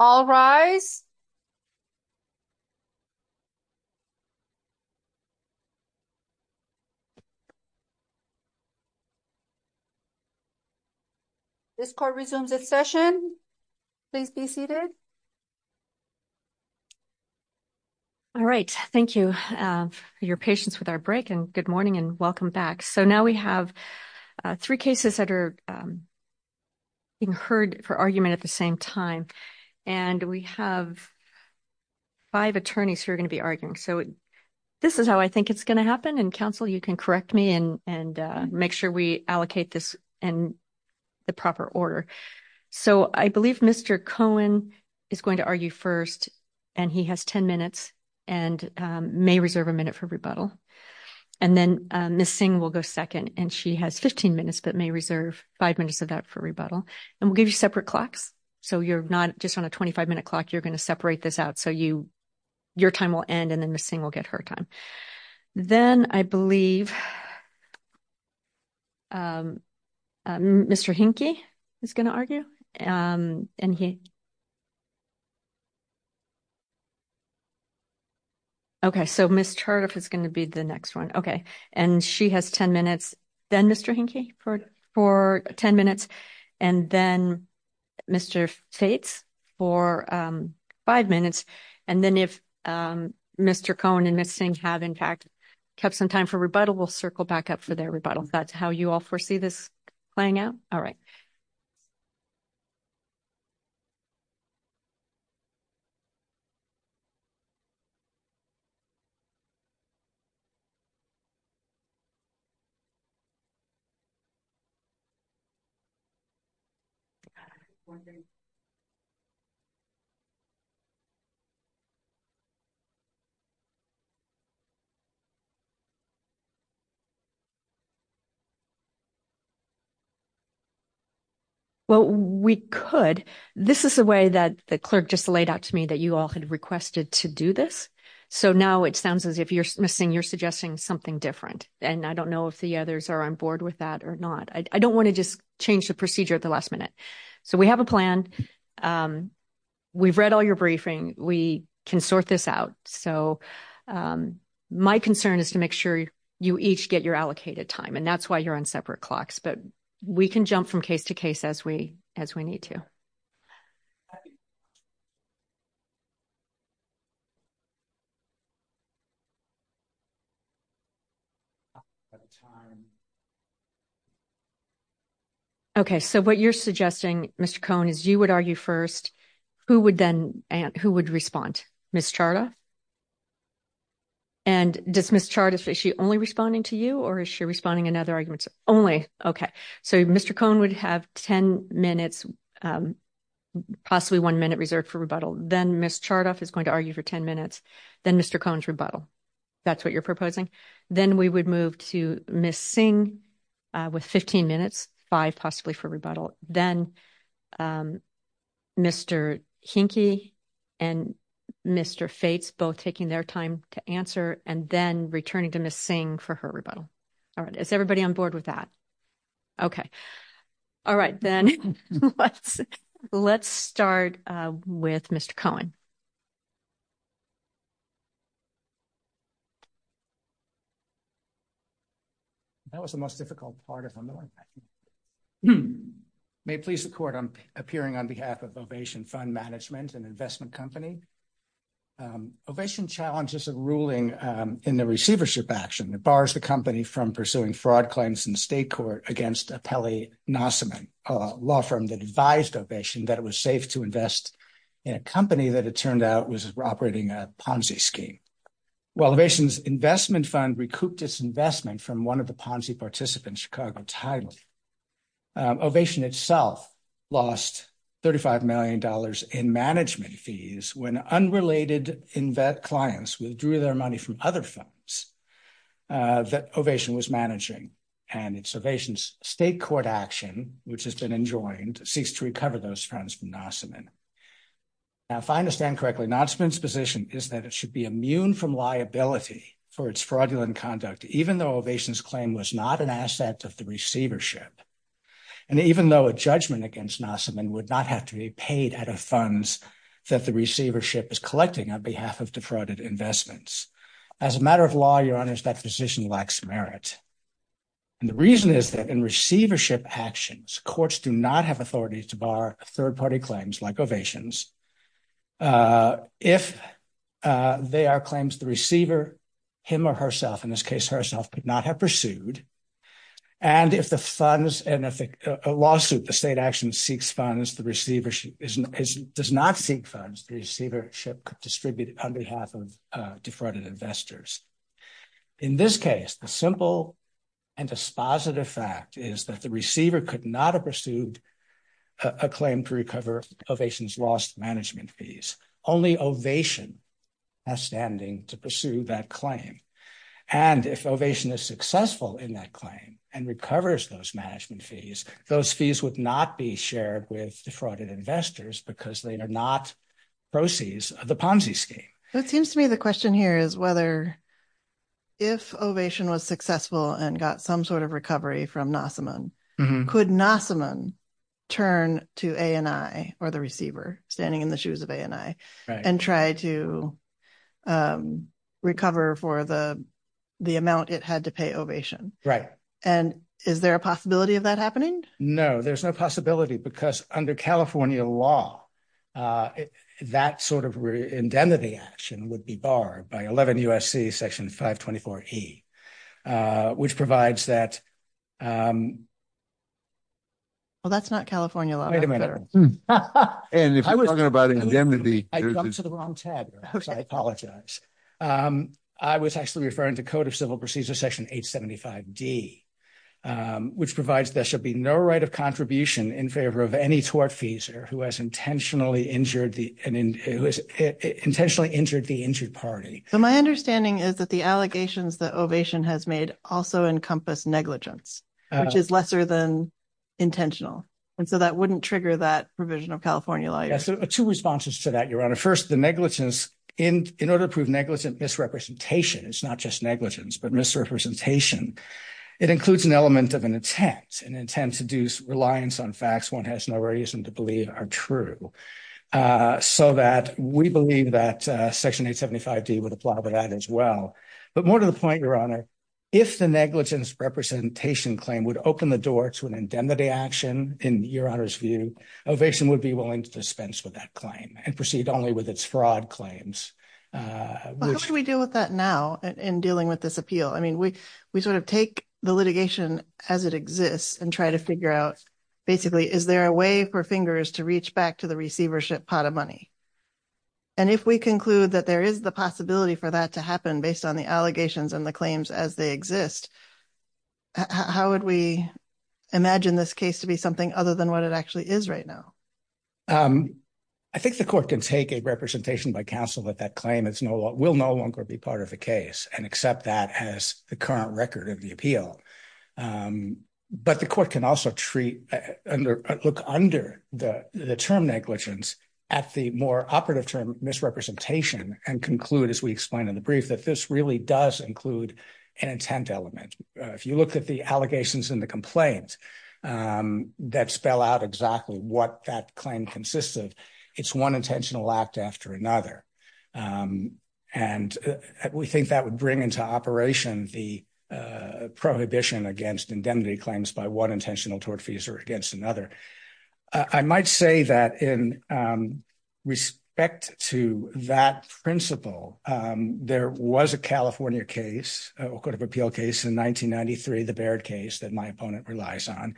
All rise. This call resumes its session. Please be seated. All right. Thank you for your patience with our break and good morning and welcome back. So now we have three cases that are being heard for argument at the same time and we have five attorneys who are going to be arguing. So this is how I think it's going to happen and counsel you can correct me and make sure we allocate this in the proper order. So I believe Mr. Cohen is going to argue first and he has 10 minutes and may reserve a minute for rebuttal and then Ms. Singh will go second and she has 15 minutes but may reserve five minutes of that for rebuttal and we'll give you separate clocks so you're not just on a 25 minute clock you're going to separate this out so your time will end and then Ms. Singh will get her time. Then I believe Mr. Hinke is going to argue and he okay so Ms. Turdif is going to be the next one okay and she has 10 minutes then Mr. Hinke for 10 minutes and then Mr. Fates for five minutes and then if Mr. Cohen and Ms. Singh have in fact kept some time for rebuttal we'll circle back up for their rebuttal. That's how you all foresee this playing out. All right. Well we could this is a way that the clerk just laid out to me that you all had requested to do this so now it sounds as if you're missing you're suggesting something different and I don't know the others are on board with that or not I don't want to just change the procedure at the last minute so we have a plan we've read all your briefing we can sort this out so my concern is to make sure you each get your allocated time and that's why you're on separate clocks but we can jump from case to case as we as we need to. Okay so what you're suggesting Mr. Cohen is you would argue first who would then and who would respond Ms. Charda and does Ms. Charda is she only responding to you is she responding in other arguments only okay so Mr. Cohen would have 10 minutes possibly one minute reserved for rebuttal then Ms. Chardoff is going to argue for 10 minutes then Mr. Cohen's rebuttal that's what you're proposing then we would move to Ms. Singh with 15 minutes five possibly for rebuttal then Mr. Hinke and Mr. Fates both taking their time to answer and then returning to Ms. Singh for her rebuttal all right is everybody on board with that okay all right then let's let's start with Mr. Cohen. That was the most difficult part if I'm the one may please the court I'm appearing on behalf of Ovation Fund Management an investment company Ovation challenges a ruling in the Receivership Action that bars the company from pursuing fraud claims in the state court against a Pelley-Nassiman law firm that advised Ovation that it was safe to invest in a company that it turned out was operating a Ponzi scheme. While Ovation's investment fund recouped its investment from one of the Ponzi participants Chicago Title, Ovation itself lost 35 million dollars in management fees when unrelated in-vet clients withdrew their money from other funds that Ovation was managing and it's Ovation's state court action which has been enjoined seeks to recover those funds from Nassiman. Now if I understand correctly Nassiman's position is that it should be immune from liability for its fraudulent conduct even though Ovation's claim was not an asset of the Receivership and even though a judgment against Nassiman would not have to be paid out of funds that the Receivership is collecting on behalf of defrauded investments. As a matter of law your honor that position lacks merit and the reason is that in Receivership actions courts do not have authority to bar third-party claims like Ovation's if they are claims the Receiver him or herself in this case herself could not have pursued and if the funds and if a lawsuit the state action seeks funds the Receivership is does not seek funds the Receivership could distribute on behalf of defrauded investors. In this case the simple and dispositive fact is that the Receiver could not have pursued a claim to recover Ovation's lost management fees only Ovation has standing to pursue that claim and if Ovation is successful in that claim and recovers those management fees those fees would not be shared with defrauded investors because they are not proceeds of the Ponzi scheme. It seems to me the question here is whether if Ovation was successful and got some sort of recovery from Nassiman could Nassiman turn to ANI or the Receiver standing in the shoes of ANI and try to recover for the amount it had to pay Ovation. Right. And is there a possibility of that happening? No there's no possibility because under California law that sort of indemnity action would be barred by 11 U.S.C. section 524E which provides that well that's not California law Wait a minute. And if you're talking about indemnity. I've come to the wrong tab. I apologize. I was actually referring to Code of Civil Procedure section 875D which provides there should be no right of contribution in favor of any tortfeasor who has intentionally injured the and who has intentionally injured the injured party. So my understanding is that the allegations that Ovation has made also encompass negligence which is lesser than intentional and so that wouldn't trigger that provision of California law. Yes two responses to that your honor. First the negligence in in order to prove negligent misrepresentation it's not just negligence but misrepresentation it includes an element of an intent an intent to deuce reliance on facts one has no reason to believe are true. So that we believe that section 875D would apply to that as well. But more to the honor if the negligence representation claim would open the door to an indemnity action in your honor's view Ovation would be willing to dispense with that claim and proceed only with its fraud claims. How do we deal with that now in dealing with this appeal? I mean we we sort of take the litigation as it exists and try to figure out basically is there a way for fingers to reach back to the receivership pot of money. And if we conclude that there is the possibility for that to exist how would we imagine this case to be something other than what it actually is right now? I think the court can take a representation by counsel that that claim is no longer will no longer be part of the case and accept that as the current record of the appeal. But the court can also treat under look under the the term negligence at the more operative term misrepresentation and conclude as we explained in the brief that this really does include an intent element. If you look at the allegations in the complaint that spell out exactly what that claim consists of it's one intentional act after another. And we think that would bring into operation the prohibition against indemnity claims by one intentional tortfeasor against another. I might say that in respect to that principle there was a California case a court of appeal case in 1993 the Baird case that my opponent relies on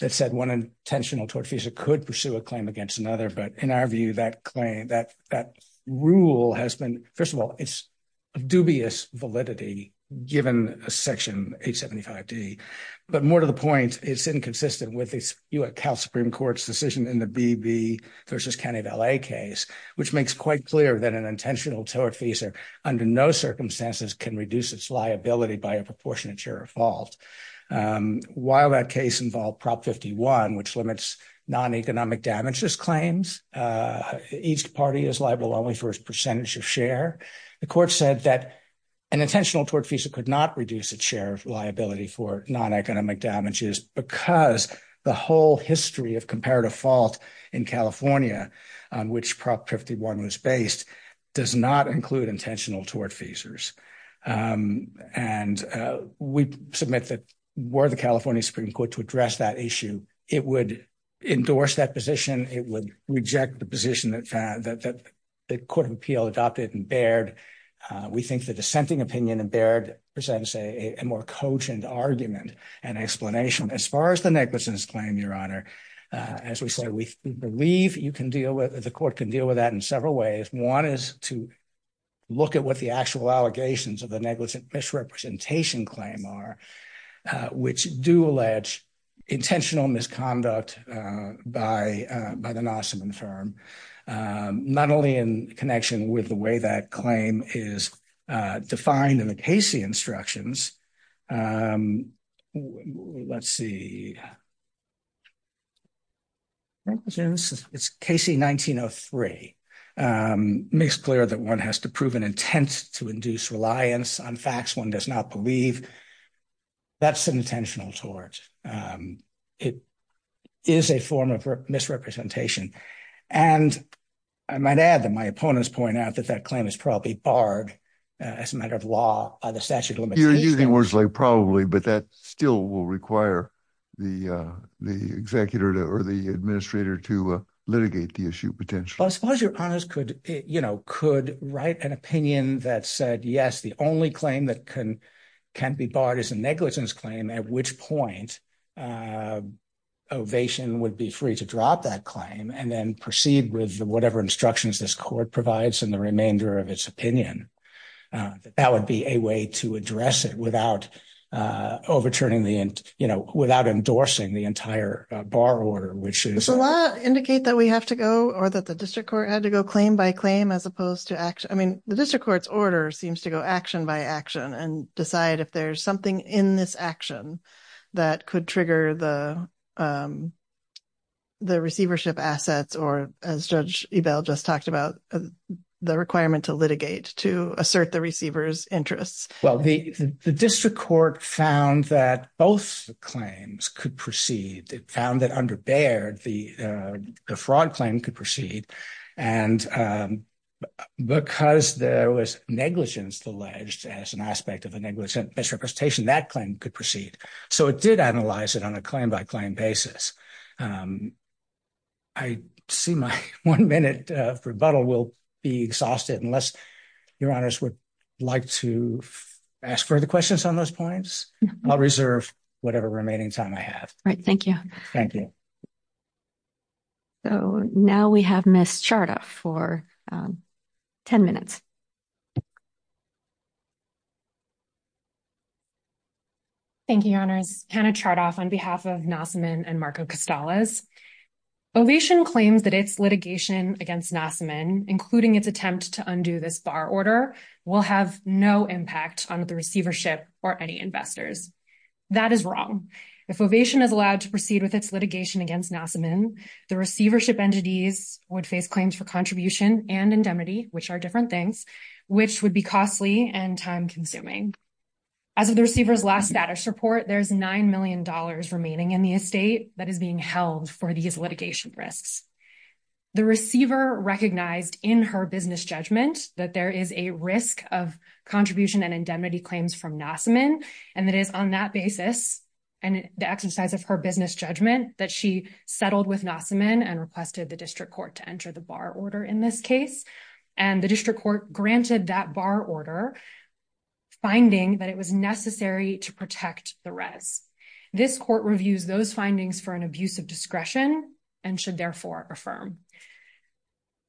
that said one intentional tortfeasor could pursue a claim against another. But in our view that claim that that rule has been first of all it's a dubious validity given a section 875d. But more to the point it's inconsistent with the U.S. Supreme Court's decision in the B.B. versus County of L.A. case which makes quite clear that an intentional tortfeasor under no circumstances can reduce its liability by a proportionate share of fault. While that case involved prop 51 which limits non-economic damages claims each party is liable only for its percentage of share. The court said that an intentional tortfeasor could not reduce its share of liability for non-economic damages because the whole history of comparative fault in California on which prop 51 was based does not include intentional tortfeasors. And we submit that were the California Supreme Court to address that issue it would endorse that position it would reject the position that the court of appeal adopted in Baird. We think the dissenting opinion in Baird presents a more cogent argument and explanation. As far as the negligence claim your honor as we say we believe you can deal with the court can deal with that in several ways. One is to look at what the actual allegations of the negligent misrepresentation claim are which do allege intentional misconduct by the Nassiman firm. Not only in connection with the way that claim is defined in the Casey instructions. Let's see it's Casey 1903. Makes clear that one has to prove an intent to induce reliance on facts one does not believe that's an intentional tort. It is a form of misrepresentation and I might add that my opponents point out that that claim is probably barred as a matter of law by the statute of limitations. You're using words like probably but that still will require the the executor or the administrator to litigate the issue potentially. As far as your honors could you know could write an opinion that said yes the only claim that can can be barred is a negligence claim at which point ovation would be free to drop that claim and then proceed with whatever instructions this court provides in the remainder of its opinion. That would be a way to address it without overturning the you know without endorsing the entire bar order. Which is a lot indicate that we have to go or that the district court had to go claim by claim as opposed to action. I mean the district court's order seems to go action by action and decide if there's something in this action that could trigger the the receivership assets or as Judge Ebell just talked about the requirement to litigate to assert the receiver's interests. Well the the district court found that both claims could proceed. It found that under Baird the fraud claim could proceed and because there was negligence alleged as an aspect of a negligent misrepresentation that claim could proceed. So it did analyze it on a claim by claim basis. I see my one minute of rebuttal will be exhausted unless your honors would like to ask further questions on those points. I'll reserve whatever remaining time I have. All right thank you. Thank you. So now we have Ms. Chardoff for 10 minutes. Thank you your honors. Hannah Chardoff on behalf of Nassiman and Marco Costales. Ovation claims that its litigation against Nassiman including its attempt to undo this bar order will have no impact on the receivership or any investors. That is wrong. If Ovation is to proceed with its litigation against Nassiman the receivership entities would face claims for contribution and indemnity which are different things which would be costly and time-consuming. As of the receiver's last status report there's nine million dollars remaining in the estate that is being held for these litigation risks. The receiver recognized in her business judgment that there is a risk of contribution and indemnity claims from Nassiman and that is on that basis and the exercise of her business judgment that she settled with Nassiman and requested the district court to enter the bar order in this case and the district court granted that bar order finding that it was necessary to protect the res. This court reviews those findings for an abuse of discretion and should therefore affirm.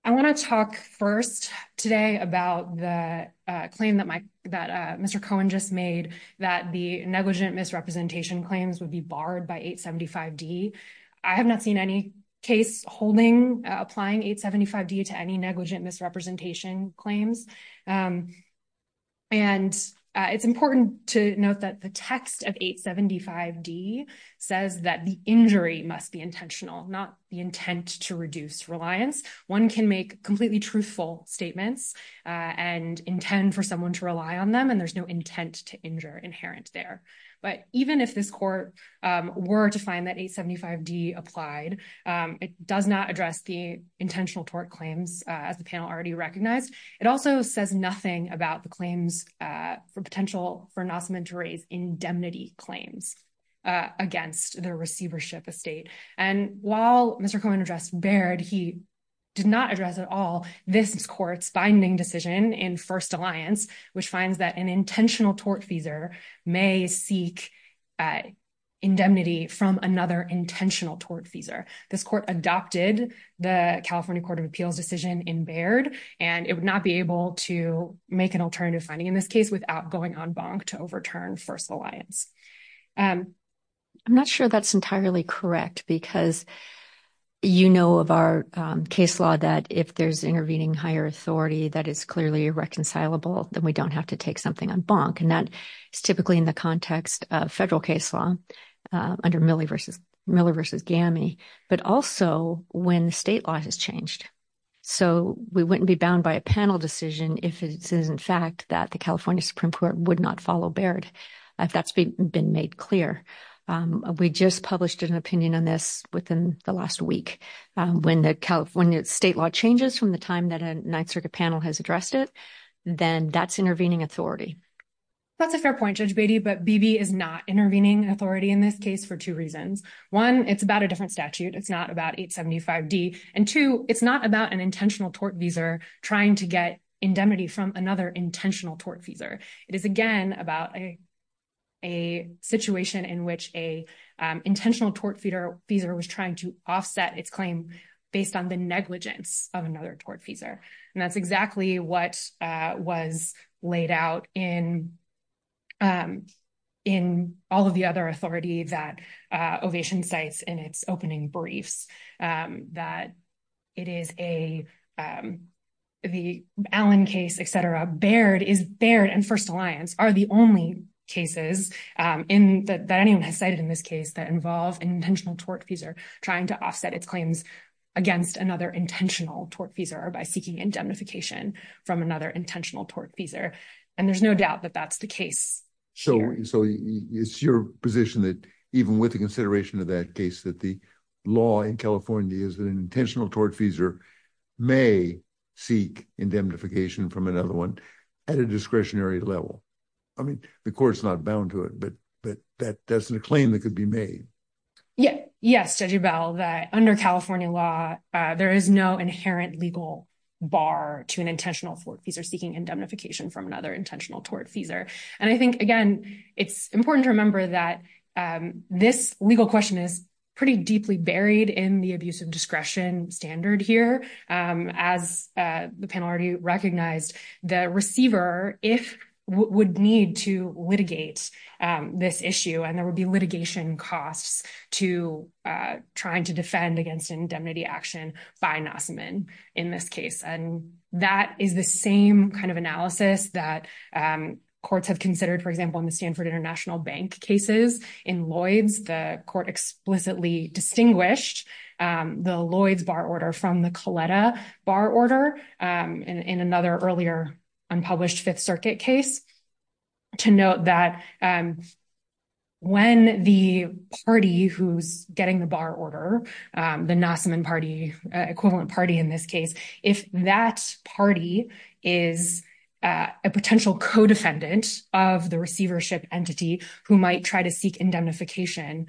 I want to talk first today about the claim that Mr. Cohen just made that the negligent misrepresentation claims would be barred by 875D. I have not seen any case holding applying 875D to any negligent misrepresentation claims and it's important to note that the text of 875D says that the injury must be intentional not the intent to reduce reliance. One can make completely truthful statements and intend for someone to rely on them and there's no intent to injure inherent there but even if this court were to find that 875D applied it does not address the intentional tort claims as the panel already recognized. It also says nothing about the claims for potential for Nassiman to raise indemnity claims against the receivership estate and while Mr. Cohen addressed barred he did not address at all this court's binding decision in First Alliance which finds that an intentional tort feaser may seek indemnity from another intentional tort feaser. This court adopted the California Court of Appeals decision in Baird and it would not be able to make an alternative finding in this case without going en banc to overturn First Alliance. I'm not sure that's entirely correct because you know of our case law that if there's intervening higher authority that is clearly irreconcilable then we don't have to take something en banc and that is typically in the context of federal case law under Miller v. Gamme but also when the state law has changed so we wouldn't be bound by a panel decision if it is in fact that the California Supreme Court would not follow Baird if that's been made clear. We just published an opinion on this within the last week when the state law changes from the time that a Ninth Circuit panel has addressed it then that's intervening authority. That's a fair point Judge Beatty but BB is not intervening authority in this case for two reasons. One it's about a different statute it's not about 875d and two it's not about an intentional tort visa trying to get indemnity from another intentional tort visa. It is again about a situation in which an intentional tort visa was trying to offset its claim based on the negligence of another tort visa and that's exactly what was laid out in in all of the other authority that Ovation cites in its opening briefs that it is a the Allen case etc. Baird is Baird and First Alliance are the only cases in that anyone has cited in this case that involve an intentional tort visa trying to offset its claims against another intentional tort visa or by seeking indemnification from another intentional tort visa and there's no doubt that that's the case. So it's your position that even with the may seek indemnification from another one at a discretionary level. I mean the court's not bound to it but but that that's a claim that could be made. Yeah yes Judge Bell that under California law there is no inherent legal bar to an intentional tort visa seeking indemnification from another intentional tort visa and I think again it's important to remember that this legal question is pretty deeply buried in the abuse of discretion standard here as the panel already recognized the receiver if would need to litigate this issue and there would be litigation costs to trying to defend against indemnity action by Nassiman in this case and that is the same kind of analysis that courts have considered for example in the Stanford International Bank cases in Lloyd's the court explicitly distinguished the Lloyd's bar order from the Coletta bar order in another earlier unpublished Fifth Circuit case to note that when the party who's getting the bar order the Nassiman party equivalent party in this case if that party is a potential co-defendant of the receivership entity who might try to seek indemnification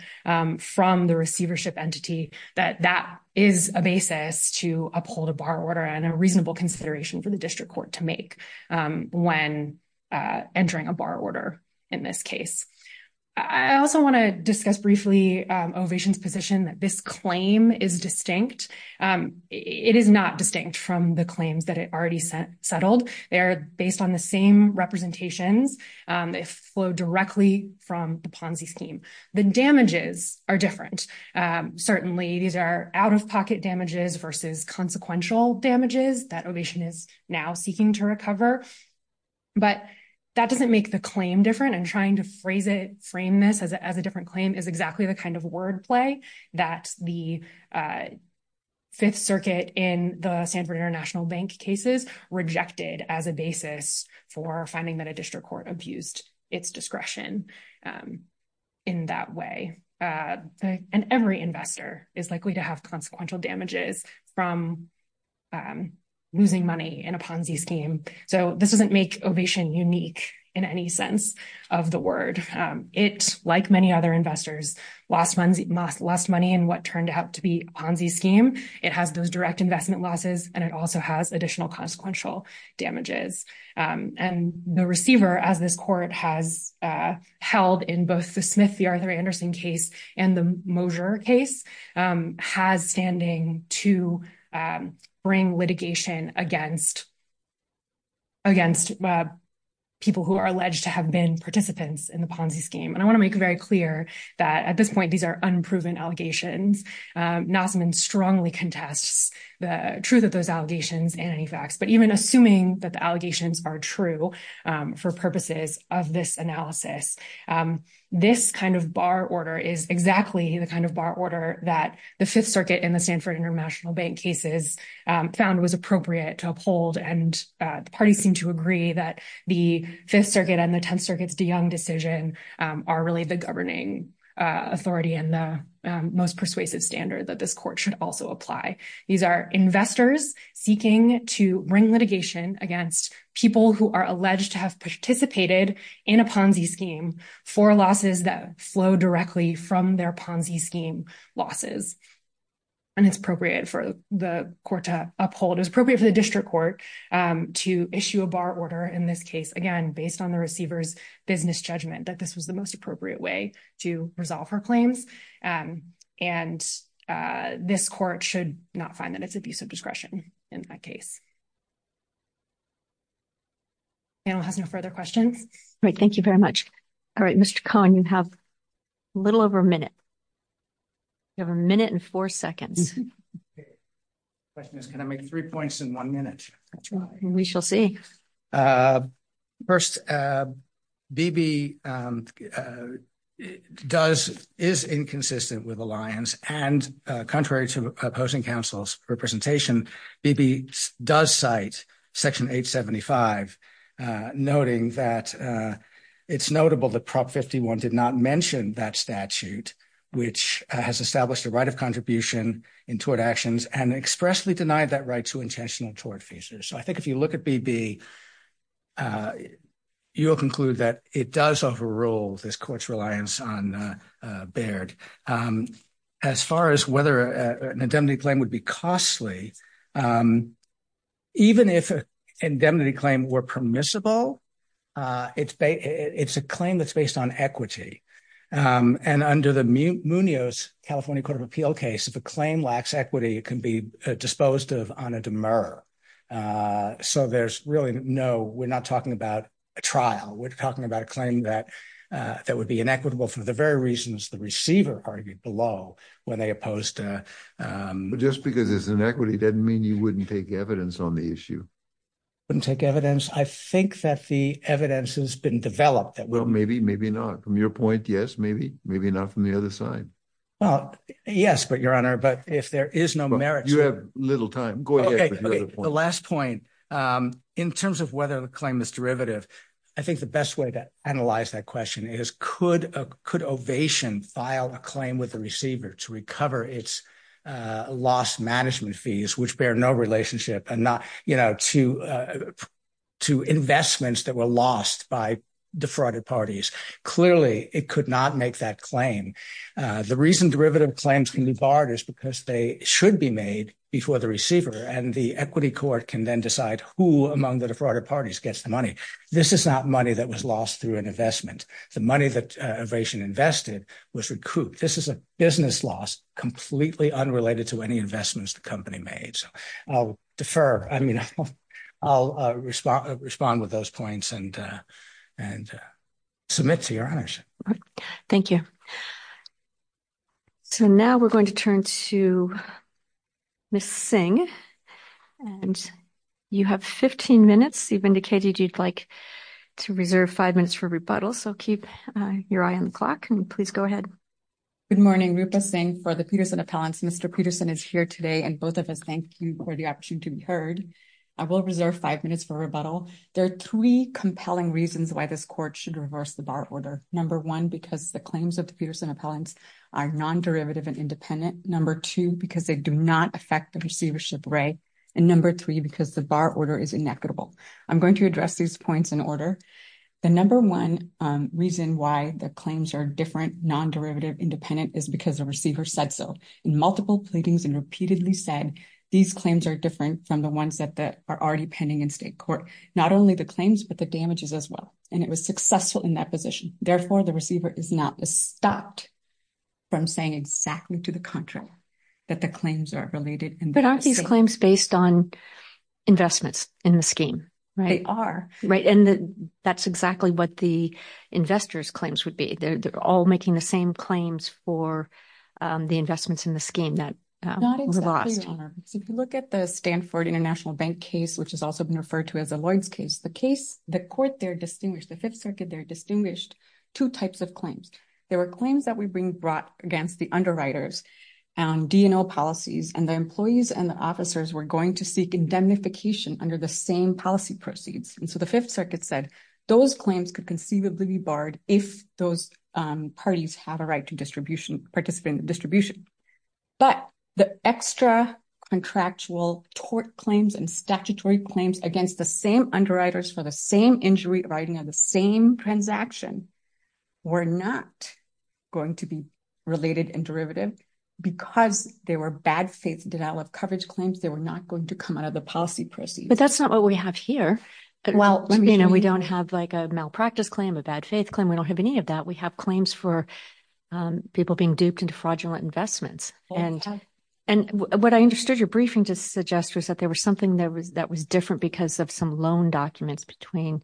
from the receivership entity that that is a basis to uphold a bar order and a reasonable consideration for the district court to make when entering a bar order in this case. I also want to discuss briefly Ovation's position that this claim is distinct it is not distinct from the claims that it already settled they are based on the same representations they flow directly from the Ponzi scheme the damages are different certainly these are out-of-pocket damages versus consequential damages that Ovation is now seeking to recover but that doesn't make the claim different and trying to phrase it frame this as a different claim is exactly the kind of word play that the Fifth Circuit in the Sanford International Bank cases rejected as a basis for finding that a district court abused its discretion in that way and every investor is likely to have consequential damages from losing money in a Ponzi scheme so this doesn't make Ovation unique in any sense of the word it like many other investors lost money in what turned out to be a Ponzi scheme it has those direct investment losses and it also has additional consequential damages and the receiver as this court has held in both the Smith v. Arthur Anderson case and the Mosier case has to bring litigation against against people who are alleged to have been participants in the Ponzi scheme and I want to make very clear that at this point these are unproven allegations Nausman strongly contests the truth of those allegations and any facts but even assuming that the allegations are true for purposes of this analysis this kind of bar order is exactly the kind of bar order that the Fifth Circuit in the Sanford International Bank cases found was appropriate to uphold and the parties seem to agree that the Fifth Circuit and the Tenth Circuit's de Young decision are really the governing authority and the most persuasive standard that this court should also apply these are investors seeking to bring litigation against people who are alleged to have participated in a Ponzi scheme for losses that flow directly from their Ponzi scheme losses and it's appropriate for the court to uphold is appropriate for the district court to issue a bar order in this case again based on the receiver's business judgment that this was the most appropriate way to resolve her claims and this court should not find that it's abuse of discretion in that case panel has no further questions all right thank you very much all right mr cohen you have a little over a minute you have a minute and four seconds question is can i make three points in one minute we shall see uh first uh bb um does is inconsistent with alliance and uh contrary to opposing counsel's representation bb does cite section 875 uh noting that uh it's notable that prop 51 did not mention that statute which has established the right of contribution in tort actions and expressly denied that right to intentional tort features so i think if you look at bb uh you will conclude that it does overrule this court's reliance on uh baird um as far as whether an indemnity claim would be costly um even if a indemnity claim were permissible uh it's ba it's a claim that's based on equity um and under the munio's california court of appeal case if a claim lacks equity it can be disposed of on a demur uh so there's really no we're not talking about a trial we're talking about a claim that uh that would be inequitable for the very reasons the receiver argued below when they opposed to um just because it's an equity doesn't mean you wouldn't take evidence on the issue wouldn't take evidence i think that the evidence has been developed that well maybe maybe not from your point yes maybe maybe not from the other side well yes but your honor but if there is no merit you have little time go ahead the last point um in terms of whether the claim is derivative i think the best way to analyze that question is could a could ovation file a claim with the receiver to recover its uh lost management fees which bear no relationship and not you know to uh to investments that were lost by defrauded parties clearly it could not make that claim uh the reason derivative claims can be barred is because they should be made before the receiver and the equity court can then decide who among the defrauded parties gets the was recouped this is a business loss completely unrelated to any investments the company made so i'll defer i mean i'll respond respond with those points and uh and uh submit to your honors thank you so now we're going to turn to miss sing and you have 15 minutes you've indicated you'd like to reserve five minutes for rebuttal so keep uh your eye on the clock and please go ahead good morning rupa sing for the peterson appellants mr peterson is here today and both of us thank you for the opportunity to be heard i will reserve five minutes for rebuttal there are three compelling reasons why this court should reverse the bar order number one because the claims of the peterson appellants are non-derivative and independent number two because they do not affect the receivership rate and number three because the bar order is inequitable i'm going to address these points in order the number one um reason why the claims are different non-derivative independent is because the receiver said so in multiple pleadings and repeatedly said these claims are different from the ones that are already pending in state court not only the claims but the damages as well and it was successful in that position therefore the receiver is not stopped from saying exactly to the contrary that the claims are related but aren't these claims based on investments in the scheme right they are right and that's exactly what the investors claims would be they're all making the same claims for the investments in the scheme that not exactly your honor so if you look at the stanford international bank case which has also been referred to as a lloyd's case the case the court they're distinguished the fifth circuit they're distinguished two types of claims there claims that we bring brought against the underwriters and dno policies and the employees and the officers were going to seek indemnification under the same policy proceeds and so the fifth circuit said those claims could conceivably be barred if those parties have a right to distribution participate in the distribution but the extra contractual tort claims and statutory claims against the same underwriters for the same injury writing on the same transaction were not going to be related and derivative because they were bad faith denial of coverage claims they were not going to come out of the policy proceeds but that's not what we have here well you know we don't have like a malpractice claim a bad faith claim we don't have any of that we have claims for people being duped into fraudulent investments and and what i understood your briefing to suggest was that there was something that was that was different because of some loan documents between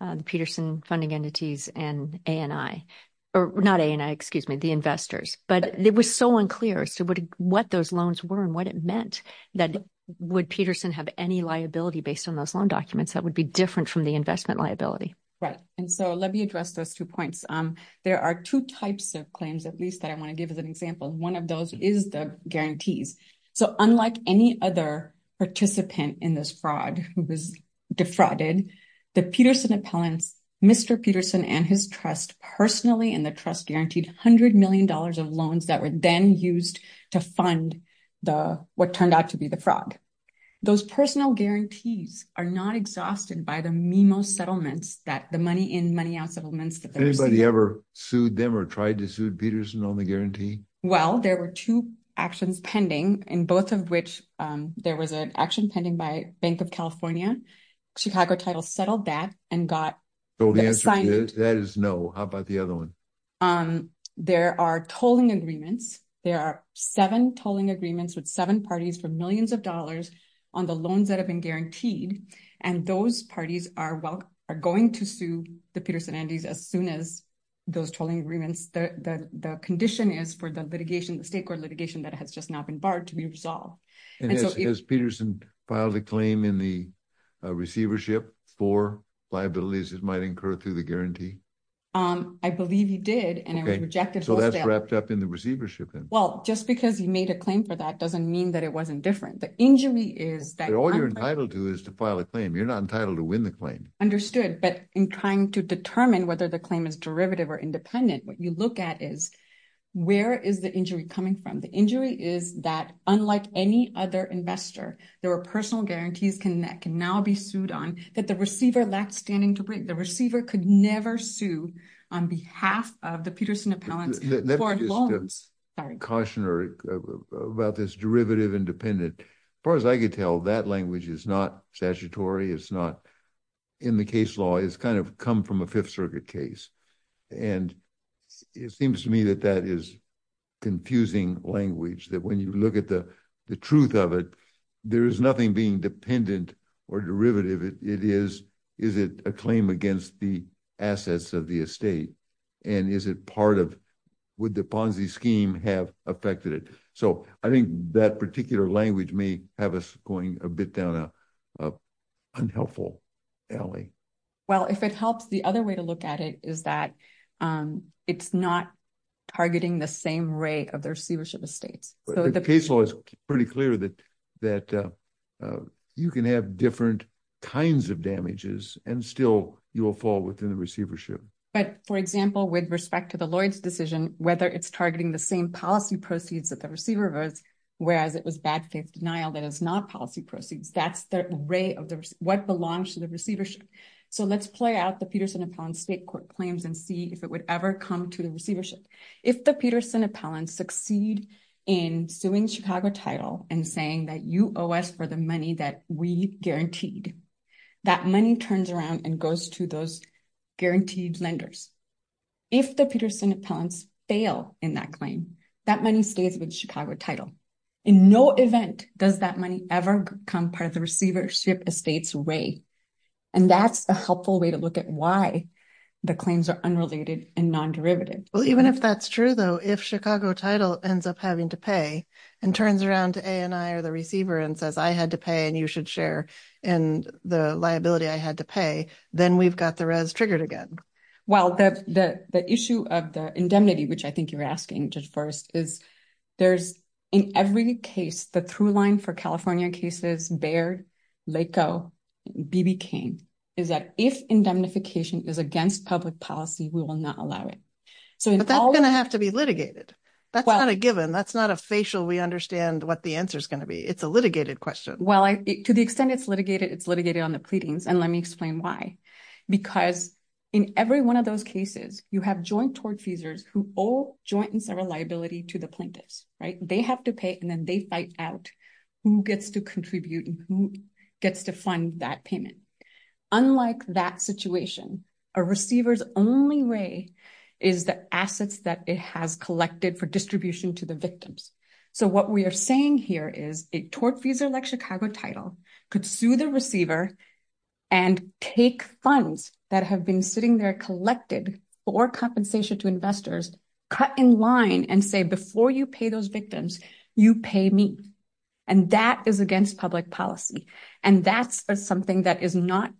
the peterson funding entities and a and i or not a and i excuse me the investors but it was so unclear so what what those loans were and what it meant that would peterson have any liability based on those loan documents that would be different from the investment liability right and so let me address those two points um there are two types of claims at least that i want to give as an example one of those is the guarantees so unlike any other participant in this fraud who was defrauded the peterson appellants mr peterson and his trust personally in the trust guaranteed 100 million dollars of loans that were then used to fund the what turned out to be the fraud those personal guarantees are not exhausted by the memo settlements that the money in money out settlements that anybody ever sued them or tried to sue there was an action pending by bank of california chicago title settled that and got so the answer that is no how about the other one um there are tolling agreements there are seven tolling agreements with seven parties for millions of dollars on the loans that have been guaranteed and those parties are well are going to sue the peterson andes as soon as those tolling agreements the the condition is for the litigation the state court litigation that has just now been to be resolved and so it was peterson filed a claim in the receivership for liabilities it might incur through the guarantee um i believe he did and it was rejected so that's wrapped up in the receivership well just because you made a claim for that doesn't mean that it wasn't different the injury is that all you're entitled to is to file a claim you're not entitled to win the claim understood but in trying to determine whether the claim is derivative or independent what you look at is where is the injury coming from the injury is that unlike any other investor there are personal guarantees can that can now be sued on that the receiver lacked standing to break the receiver could never sue on behalf of the peterson appellants for loans sorry cautionary about this derivative independent as far as i could tell that language is not statutory it's not in the case law it's kind of come from a fifth circuit case and it seems to me that that is confusing language that when you look at the the truth of it there is nothing being dependent or derivative it is is it a claim against the assets of the estate and is it part of would the ponzi scheme have affected so i think that particular language may have us going a bit down a unhelpful alley well if it helps the other way to look at it is that um it's not targeting the same rate of the receivership estates so the case law is pretty clear that that uh you can have different kinds of damages and still you will fall within the receivership but for example with respect to lloyd's decision whether it's targeting the same policy proceeds that the receiver was whereas it was bad faith denial that is not policy proceeds that's the array of the what belongs to the receivership so let's play out the peterson appellants state court claims and see if it would ever come to the receivership if the peterson appellants succeed in suing chicago title and saying that you owe us for the money that we guaranteed that money turns around and goes to those guaranteed lenders if the peterson appellants fail in that claim that money stays with chicago title in no event does that money ever become part of the receivership estates way and that's a helpful way to look at why the claims are unrelated and non-derivative well even if that's true though if chicago title ends up having to pay and turns around to a and i are the receiver and says i had to pay and you should share and the liability i had to pay then we've got the res triggered again well the the the issue of the indemnity which i think you're asking just first is there's in every case the through line for california cases baird laco bb king is that if indemnification is against public policy we will not allow it so that's gonna have to be litigated that's not a given that's not a facial we understand what the answer is going to be it's a litigated question well i to the extent it's litigated it's litigated on the pleadings and let me explain why because in every one of those cases you have joint tort feasors who owe joint and several liability to the plaintiffs right they have to pay and then they fight out who gets to contribute and who gets to fund that payment unlike that situation a receiver's only way is the assets that it has collected for distribution to the victims so what we are saying here is a tort fees are like chicago title could sue the receiver and take funds that have been sitting there collected for compensation to investors cut in line and say before you pay those victims you pay me and that is against public policy and that's something that is not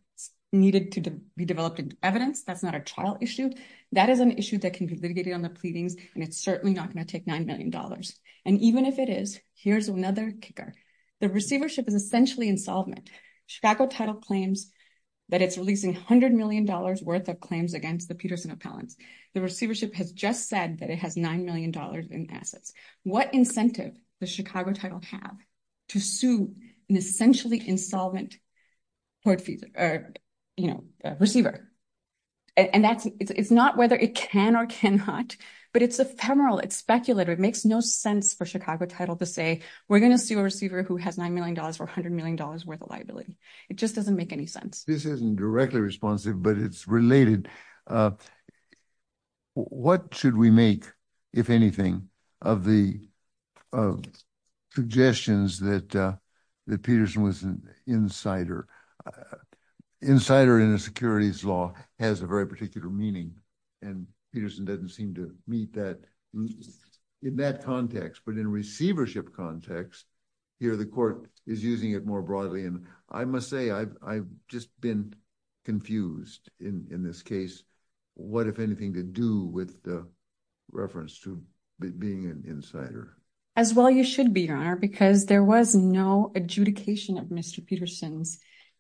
needed to be developed in evidence that's not a trial issue that is an issue that can be litigated on the pleadings and it's certainly not going to take nine million dollars and even if it is here's another kicker the receivership is essentially insolvent chicago title claims that it's releasing 100 million dollars worth of claims against the peterson appellants the receivership has just said that it has nine million dollars in assets what incentive does chicago title have to sue an essentially insolvent court fee or you know receiver and that's it's not whether it can or cannot but it's ephemeral it's speculative it makes no sense for chicago title to say we're going to sue a receiver who has nine million dollars for 100 million dollars worth of liability it just doesn't make any sense this isn't directly responsive but it's related uh uh what should we make if anything of the uh suggestions that uh that peterson was an insider insider in a securities law has a very particular meaning and peterson doesn't seem to meet that in that context but in receivership context here the court is using it more broadly and i must say i've i've just been confused in in this case what if anything to do with the reference to being an insider as well you should be your honor because there was no adjudication of mr peterson's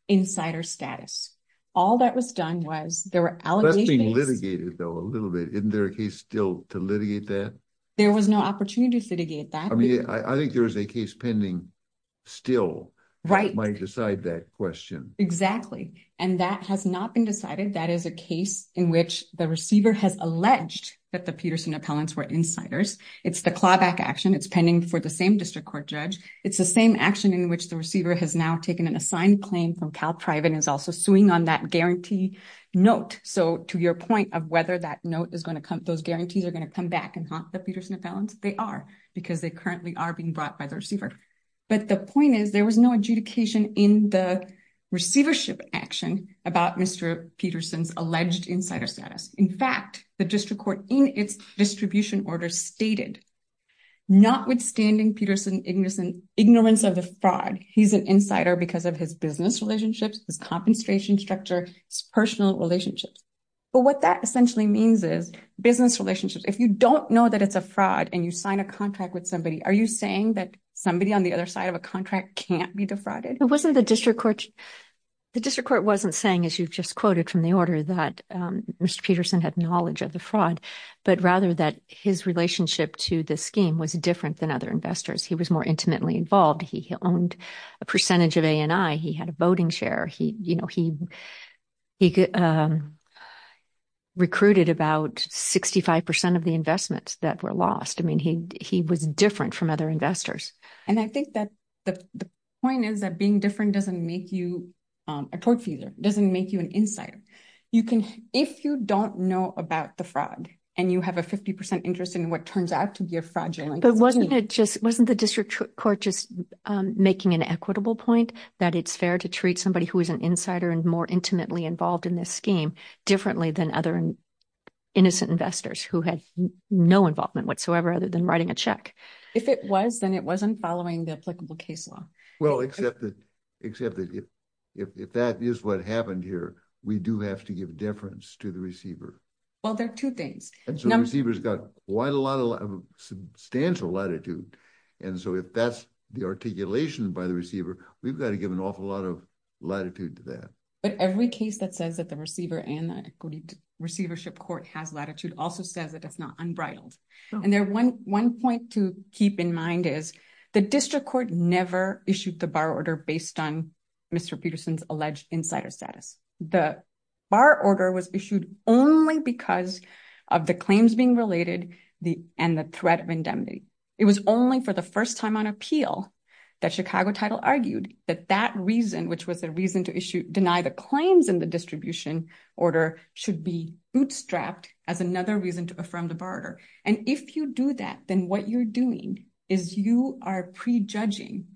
insider status all that was done was there were allegations being litigated though a little bit isn't there a case still to litigate that there was no opportunity to litigate that i think there is a case pending still right might decide that question exactly and that has not been decided that is a case in which the receiver has alleged that the peterson appellants were insiders it's the clawback action it's pending for the same district court judge it's the same action in which the receiver has now taken an assigned claim from cal private is also suing on that guarantee note so to your point of whether that note is going to come those guarantees are going to come back and haunt the peterson appellants they are because they currently are being brought by the receiver but the point is there was no adjudication in the receivership action about mr peterson's alleged insider status in fact the district court in its distribution order stated notwithstanding peterson ignorance and ignorance of the fraud he's an insider because of his business relationships his compensation structure his personal relationships but what that essentially means is business relationships if you don't know that it's a fraud and you sign a contract with somebody are you saying that somebody on the other side of a contract can't be defrauded it wasn't the district court the district court wasn't saying as you've just quoted from the order that mr peterson had knowledge of the fraud but rather that his relationship to the scheme was different than other investors he was more intimately involved he owned a percentage of he had a voting share he you know he he could um recruited about 65 percent of the investments that were lost i mean he he was different from other investors and i think that the the point is that being different doesn't make you um a tort feeder doesn't make you an insider you can if you don't know about the fraud and you have a 50 percent interest in what turns out to be a fraudulent wasn't the district court just making an equitable point that it's fair to treat somebody who is an insider and more intimately involved in this scheme differently than other innocent investors who had no involvement whatsoever other than writing a check if it was then it wasn't following the applicable case law well except that except that if if that is what happened here we do have to give deference to the receiver well there are two things and so receivers got quite a substantial latitude and so if that's the articulation by the receiver we've got to give an awful lot of latitude to that but every case that says that the receiver and the equity receivership court has latitude also says that it's not unbridled and there one one point to keep in mind is the district court never issued the bar order based on mr peterson's alleged insider status the bar order was issued only because of the claims being related the and the threat of indemnity it was only for the first time on appeal that chicago title argued that that reason which was the reason to issue deny the claims in the distribution order should be bootstrapped as another reason to affirm the barter and if you do that then what you're doing is you are prejudging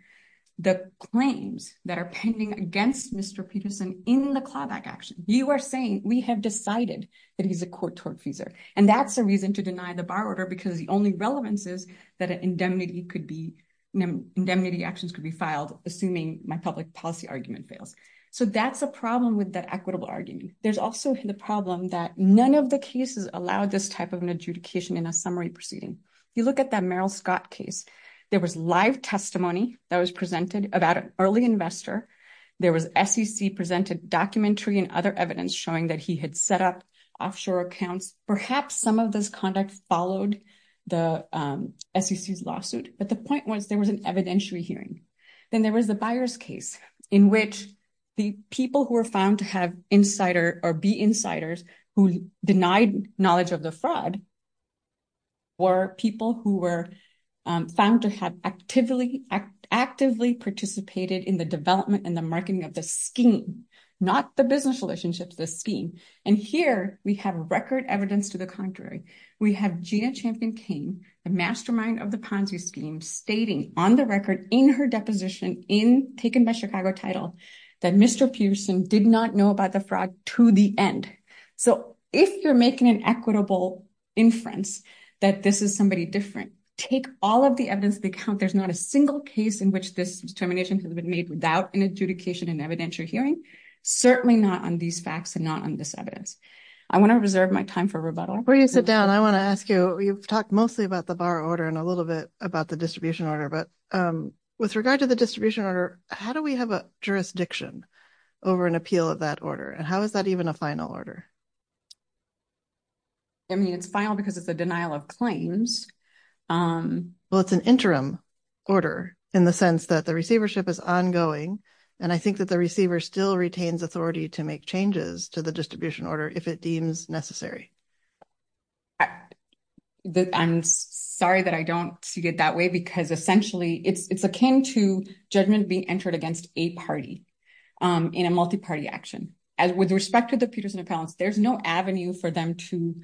the claims that are pending against mr peterson in the clawback action you are saying we have decided that he's a court-torn feaser and that's the reason to deny the bar order because the only relevance is that indemnity could be indemnity actions could be filed assuming my public policy argument fails so that's a problem with that equitable argument there's also the problem that none of the cases allow this type of an adjudication in a summary proceeding you look at that merrill scott case there was live testimony that was presented about an early investor there was sec presented documentary and other evidence showing that he had set up offshore accounts perhaps some of this conduct followed the sec's lawsuit but the point was there was an evidentiary hearing then there was the buyer's case in which the people who were insider or be insiders who denied knowledge of the fraud were people who were found to have actively actively participated in the development and the marketing of the scheme not the business relationships the scheme and here we have record evidence to the contrary we have gina champion came the mastermind of the ponzi scheme stating on the record in her deposition in taken by chicago that mr pearson did not know about the fraud to the end so if you're making an equitable inference that this is somebody different take all of the evidence they count there's not a single case in which this determination has been made without an adjudication and evidentiary hearing certainly not on these facts and not on this evidence i want to reserve my time for rebuttal before you sit down i want to ask you you've talked mostly about the bar order and a little bit about the distribution order but um with regard to the distribution order how do we have a jurisdiction over an appeal of that order and how is that even a final order i mean it's final because it's a denial of claims um well it's an interim order in the sense that the receivership is ongoing and i think that the receiver still retains authority to make changes to the distribution order if it deems necessary i i'm sorry that i don't see it that way because essentially it's it's akin to judgment being entered against a party um in a multi-party action as with respect to the peterson appellants there's no avenue for them to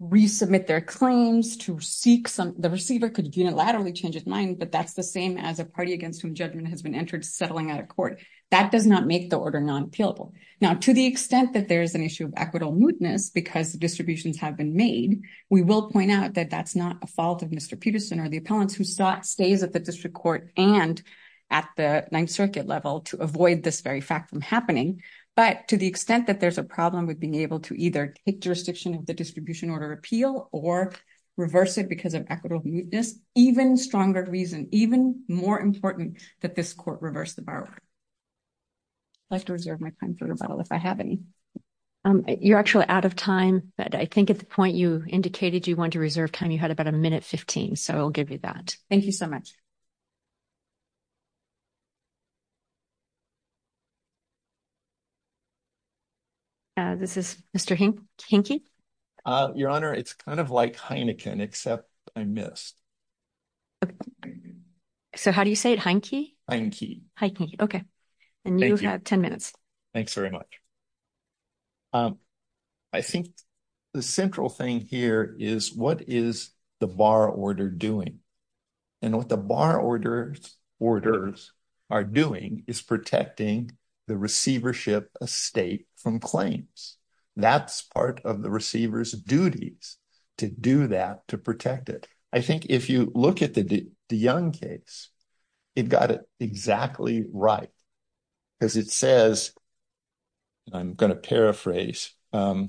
resubmit their claims to seek some the receiver could unilaterally change his mind but that's the same as a party against whom judgment has been entered settling out of court that does not make the order non-appealable now to the extent that there's an issue of equitable mootness because the distributions have been made we will point out that that's not a fault of mr peterson or the appellants who saw stays at the district court and at the ninth circuit level to avoid this very fact from happening but to the extent that there's a problem with being able to either take jurisdiction of the distribution order appeal or reverse it because of equitable mootness even stronger reason even more important that this the borrower i'd like to reserve my time for rebuttal if i have any um you're actually out of time but i think at the point you indicated you wanted to reserve time you had about a minute 15 so i'll give you that thank you so much uh this is mr hink hinky uh your honor it's kind of like except i missed okay so how do you say it hanky hanky okay and you have 10 minutes thanks very much um i think the central thing here is what is the bar order doing and what the bar orders orders are doing is protecting the receivership estate from claims that's part of the receiver's to do that to protect it i think if you look at the the young case it got it exactly right because it says i'm going to paraphrase um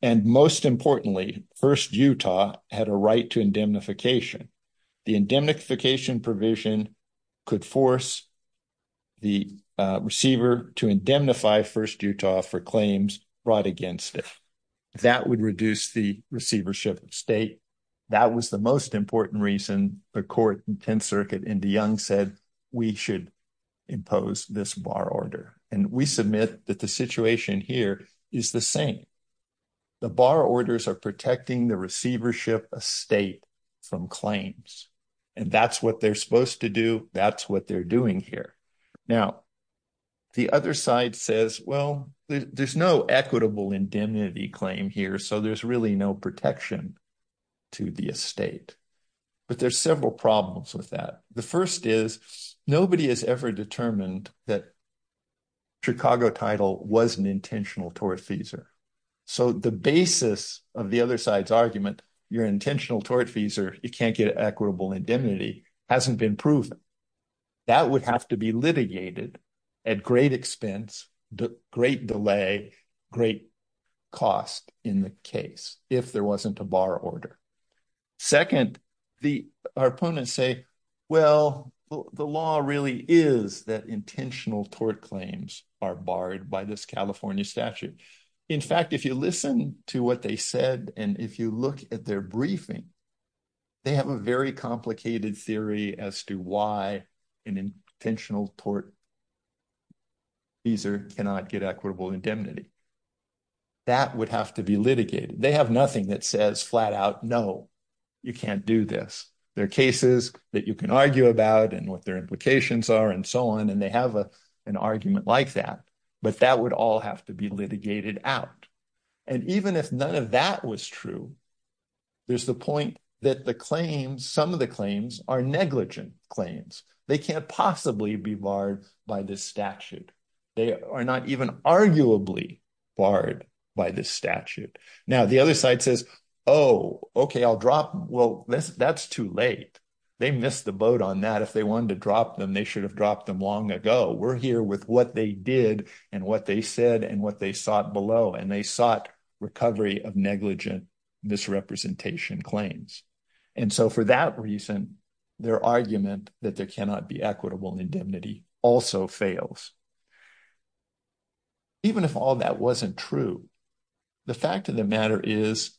and most importantly first utah had a right to indemnification the indemnification provision could force the receiver to indemnify first utah for claims brought against it that would reduce the receivership of state that was the most important reason the court in 10th circuit and de young said we should impose this bar order and we submit that the situation here is the same the bar orders are protecting the receivership estate from claims and that's what they're supposed to do that's what they're doing here now the other side says well there's no equitable indemnity claim here so there's really no protection to the estate but there's several problems with that the first is nobody has ever determined that chicago title was an intentional tortfeasor so the basis of the other side's argument your intentional tortfeasor you can't get equitable indemnity hasn't been that would have to be litigated at great expense the great delay great cost in the case if there wasn't a bar order second the our opponents say well the law really is that intentional tort claims are barred by this california statute in fact if you listen to what they said and if you look at their briefing they have a very complicated theory as to why an intentional tortfeasor cannot get equitable indemnity that would have to be litigated they have nothing that says flat out no you can't do this there are cases that you can argue about and what their implications are and so on and they have a an argument like that but that would all have to litigated out and even if none of that was true there's the point that the claims some of the claims are negligent claims they can't possibly be barred by this statute they are not even arguably barred by this statute now the other side says oh okay i'll drop well that's that's too late they missed the boat on that if they wanted to drop them they should have dropped them long ago we're here with what they did and what they said and what they sought below and they sought recovery of negligent misrepresentation claims and so for that reason their argument that there cannot be equitable indemnity also fails even if all that wasn't true the fact of the matter is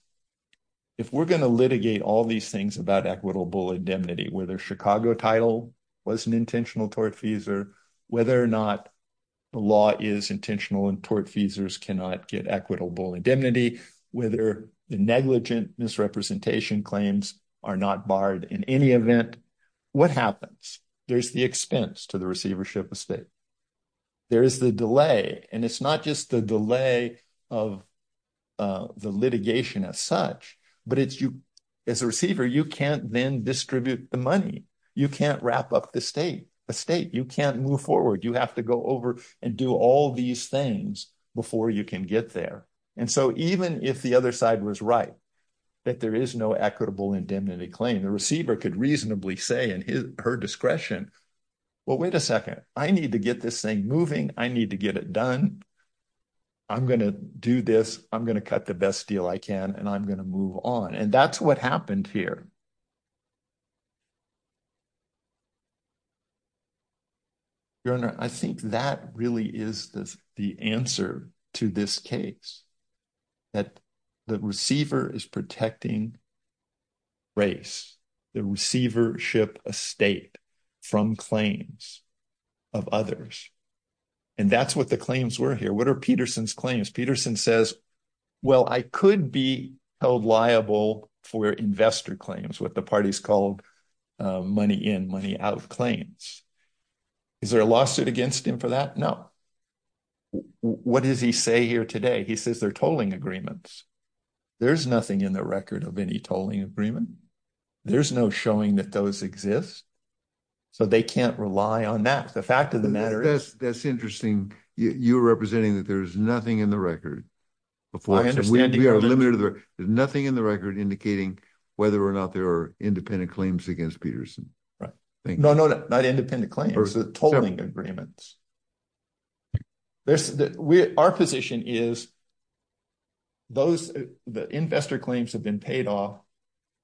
if we're going to litigate all these things about equitable indemnity whether chicago title was an intentional tort fees or whether or not the law is intentional and tort fees cannot get equitable indemnity whether the negligent misrepresentation claims are not barred in any event what happens there's the expense to the receivership estate there is the delay and it's not just the delay of uh the litigation as such but it's you as a receiver you can't then distribute the money you can't wrap up the state a state you can't move forward you have to go over and do all these things before you can get there and so even if the other side was right that there is no equitable indemnity claim the receiver could reasonably say in his her discretion well wait a second i need to get this thing moving i need to get it done i'm gonna do this i'm gonna cut the best deal i can and i'm gonna move on and that's what happened here your honor i think that really is the answer to this case that the receiver is protecting race the receivership estate from claims of others and that's what the claims were here what are peterson says well i could be held liable for investor claims what the party's called money in money out of claims is there a lawsuit against him for that no what does he say here today he says they're tolling agreements there's nothing in the record of any tolling agreement there's no showing that those exist so they can't rely on that the that's interesting you're representing that there's nothing in the record before we are limited there's nothing in the record indicating whether or not there are independent claims against peterson right no no not independent claims the tolling agreements there's that we our position is those the investor claims have been paid off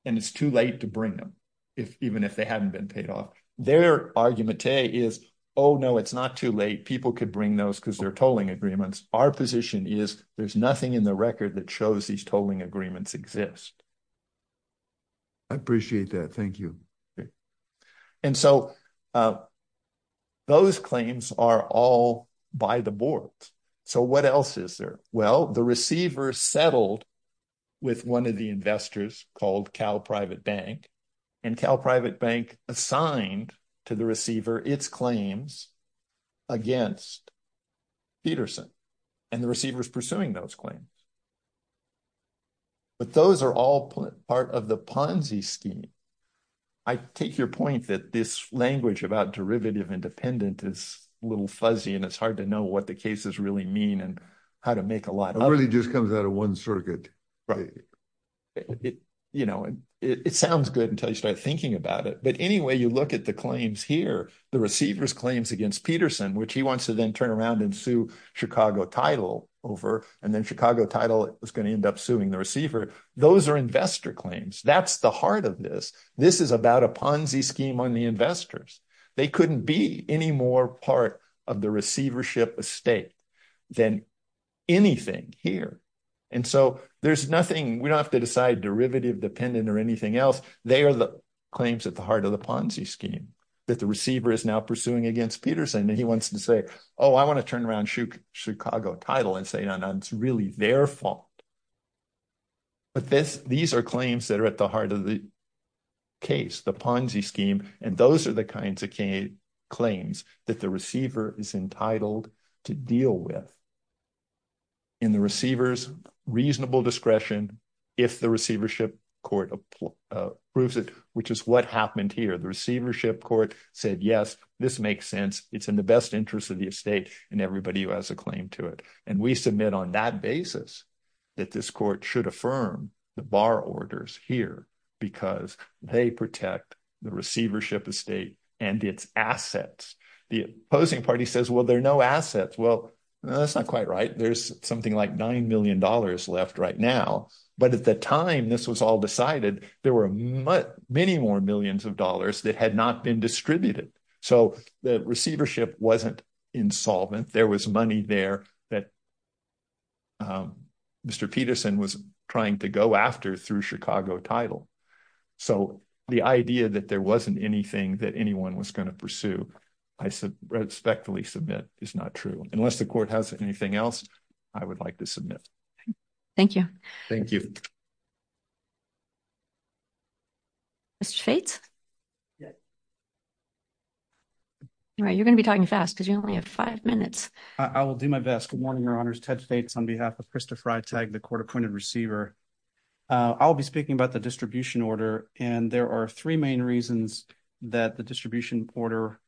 and it's too late to if even if they hadn't been paid off their argument is oh no it's not too late people could bring those because they're tolling agreements our position is there's nothing in the record that shows these tolling agreements exist i appreciate that thank you and so those claims are all by the board so what else is there well the receiver settled with one of the investors called cal private bank and cal private bank assigned to the receiver its claims against peterson and the receiver is pursuing those claims but those are all part of the ponzi scheme i take your point that this language about derivative independent is a little fuzzy and it's hard to know what the cases really mean and to make a lot it really just comes out of one circuit right you know it sounds good until you start thinking about it but anyway you look at the claims here the receiver's claims against peterson which he wants to then turn around and sue chicago title over and then chicago title is going to end up suing the receiver those are investor claims that's the heart of this this is about a ponzi scheme on the investors they couldn't be any more part of the receivership estate than anything here and so there's nothing we don't have to decide derivative dependent or anything else they are the claims at the heart of the ponzi scheme that the receiver is now pursuing against peterson and he wants to say oh i want to turn around shoot chicago title and say no no it's really their fault but this these are claims that are at the heart of the case the ponzi scheme and those are the kinds of claims that the receiver is entitled to deal with in the receiver's reasonable discretion if the receivership court approves it which is what happened here the receivership court said yes this makes sense it's in the best interest of the estate and everybody who has a claim to it and we submit on that basis that this court should affirm the bar orders here because they protect the receivership estate and its assets the opposing party says well there are no assets well that's not quite right there's something like nine million dollars left right now but at the time this was all decided there were many more millions of dollars that had not been distributed so the receivership wasn't insolvent there was money there that mr peterson was trying to go after through chicago title so the idea that there wasn't anything that anyone was going to pursue i said respectfully submit is not true unless the court has anything else i would like to submit thank you thank you mr fates yeah all right you're going to be talking fast because you only have five minutes i will do my best good uh i'll be speaking about the distribution order and there are three main reasons that the distribution order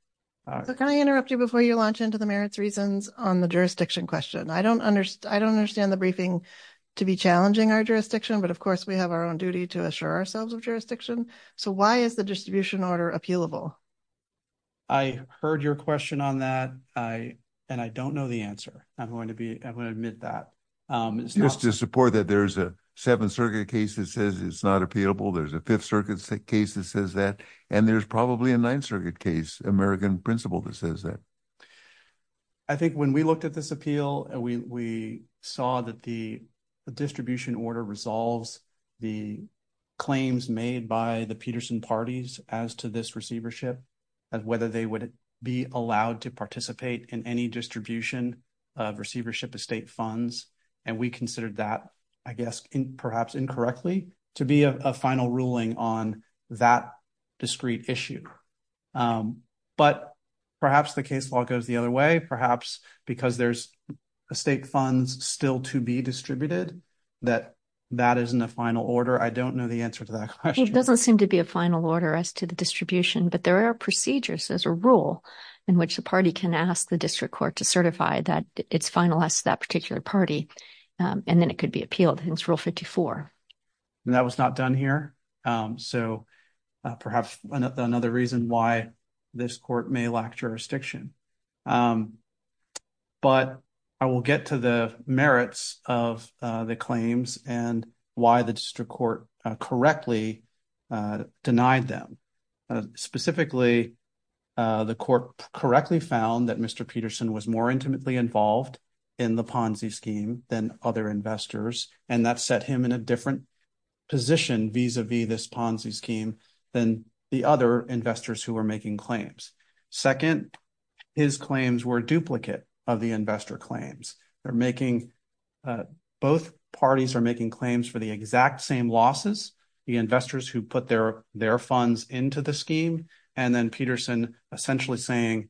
can i interrupt you before you launch into the merits reasons on the jurisdiction question i don't understand i don't understand the briefing to be challenging our jurisdiction but of course we have our own duty to assure ourselves of jurisdiction so why is the distribution order appealable i heard your question on that i and i don't know the answer i'm going to be i'm going to admit that um it's just to support that there's a seventh circuit case that says it's not appealable there's a fifth circuit case that says that and there's probably a ninth circuit case american principle that says that i think when we looked at this appeal and we we saw that the distribution order resolves the claims made by the peterson parties as to this receivership and whether they would be allowed to participate in any distribution of receivership estate funds and we considered that i guess in perhaps incorrectly to be a final ruling on that discrete issue um but perhaps the case law goes the other way perhaps because there's estate funds still to be distributed that that isn't a final order i don't know the answer to that question it doesn't seem to be a final order as to the distribution but there are procedures as a rule in which the party can ask the district court to certify that it's finalized that particular party and then it could be appealed hence rule 54 and that was not done here um so perhaps another reason why this court may lack jurisdiction um but i will get to the merits of uh the claims and why the district court correctly uh denied them specifically uh the court correctly found that mr peterson was more intimately involved in the ponzi scheme than other investors and that set him in a different position vis-a-vis this ponzi scheme than the other investors who were making claims second his claims were duplicate of the investor claims they're making both parties are making claims for the exact same losses the investors who put their their funds into the scheme and then peterson essentially saying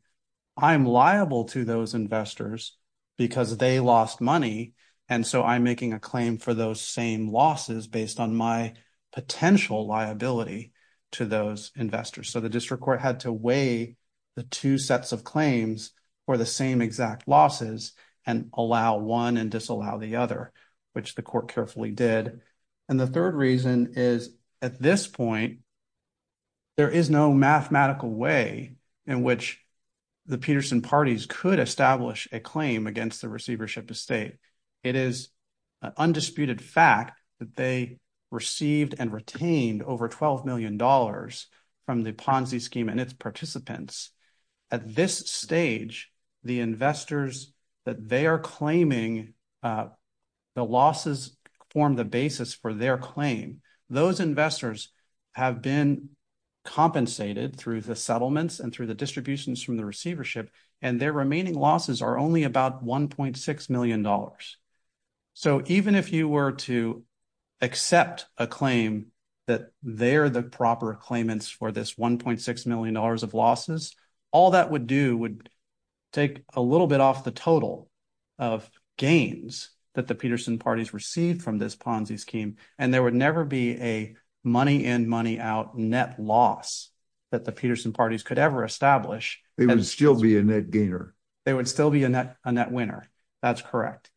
i'm liable to those investors because they lost money and so i'm making a claim for those same losses based on my potential liability to those investors so the district court had to weigh the two sets of claims for the same exact losses and allow one disallow the other which the court carefully did and the third reason is at this point there is no mathematical way in which the peterson parties could establish a claim against the receivership estate it is an undisputed fact that they received and retained over 12 million dollars from the ponzi scheme and its participants at this stage the investors that they are claiming the losses form the basis for their claim those investors have been compensated through the settlements and through the distributions from the receivership and their remaining losses are only about 1.6 million dollars so even if you were to accept a claim that they're the proper claimants for this 1.6 million dollars of losses all that would do would take a little bit off the total of gains that the peterson parties received from this ponzi scheme and there would never be a money in money out net loss that the peterson parties could ever establish they would still be a net gainer they would still be a net a net winner that's correct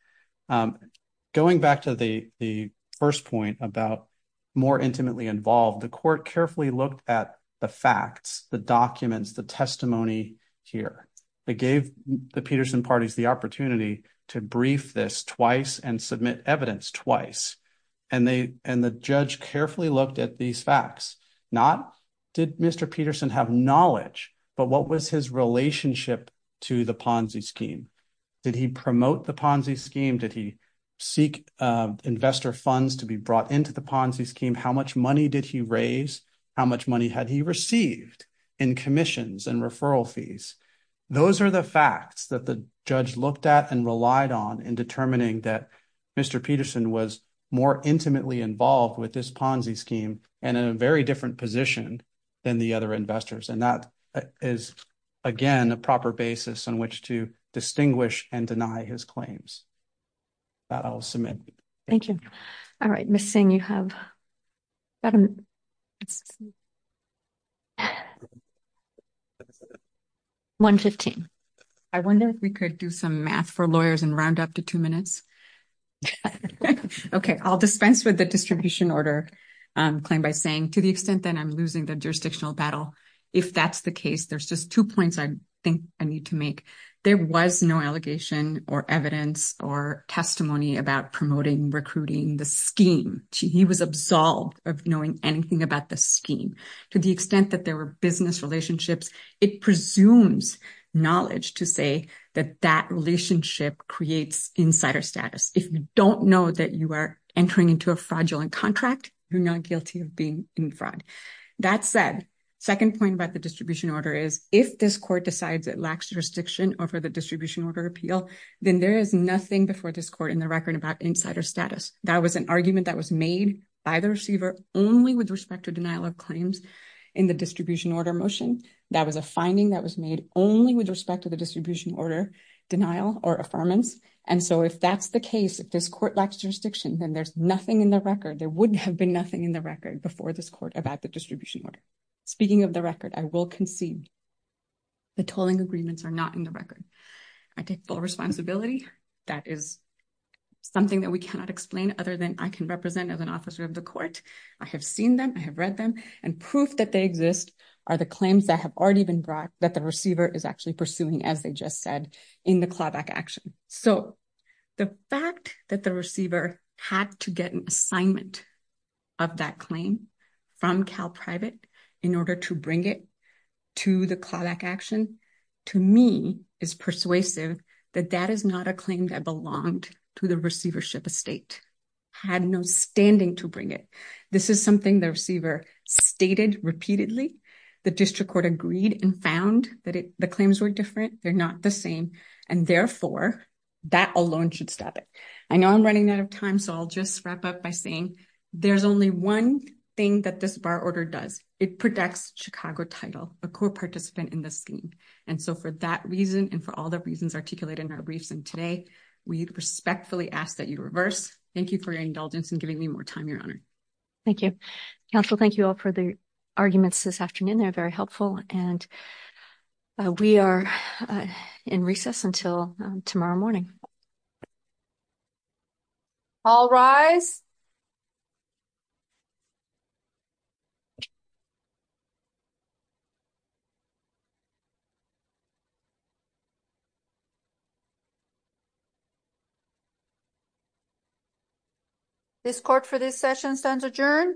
going back to the the first point about more intimately involved the court carefully looked at the facts the documents the testimony here they gave the peterson parties the opportunity to brief this twice and submit evidence twice and they and the judge carefully looked at these facts not did mr peterson have knowledge but what was his relationship to the ponzi scheme did he promote the ponzi scheme did he seek investor funds to be brought into the ponzi scheme how much money did he raise how much money had he received in commissions and referral fees those are the facts that the judge looked at and relied on in determining that mr peterson was more intimately involved with this ponzi scheme and in a very different position than the other investors and that is again a proper basis on which to distinguish and deny his claims i'll submit thank you all right missing you have 115 i wonder if we could do some math for lawyers and round up to two minutes okay i'll dispense with the distribution order um claim by saying to the extent that i'm losing the jurisdictional battle if that's the case there's just two points i think i need to make there was no allegation or evidence or testimony about promoting recruiting the scheme he was absolved of knowing anything about the scheme to the extent that there were business relationships it presumes knowledge to say that that relationship creates insider status if you don't know that you are entering into a fraudulent contract you're not guilty of being in fraud that said second point order is if this court decides it lacks jurisdiction over the distribution order appeal then there is nothing before this court in the record about insider status that was an argument that was made by the receiver only with respect to denial of claims in the distribution order motion that was a finding that was made only with respect to the distribution order denial or affirmance and so if that's the case if this court lacks jurisdiction then there's nothing in the record there wouldn't have been nothing in the record before this court about the will concede the tolling agreements are not in the record i take full responsibility that is something that we cannot explain other than i can represent as an officer of the court i have seen them i have read them and proof that they exist are the claims that have already been brought that the receiver is actually pursuing as they just said in the clawback action so the fact that the receiver had to get an assignment of that claim from cal private in order to bring it to the clawback action to me is persuasive that that is not a claim that belonged to the receivership estate had no standing to bring it this is something the receiver stated repeatedly the district court agreed and found that the claims were different they're not the same and therefore that alone should stop it i know i'm running out of time so i'll just wrap up by saying there's only one thing that this bar order does it protects chicago title a core participant in the scheme and so for that reason and for all the reasons articulated in our briefs and today we respectfully ask that you reverse thank you for your indulgence in giving me more time your honor thank you counsel thank you all for the arguments this afternoon they're very helpful and we are in recess until tomorrow morning all rise this court for this session stands adjourned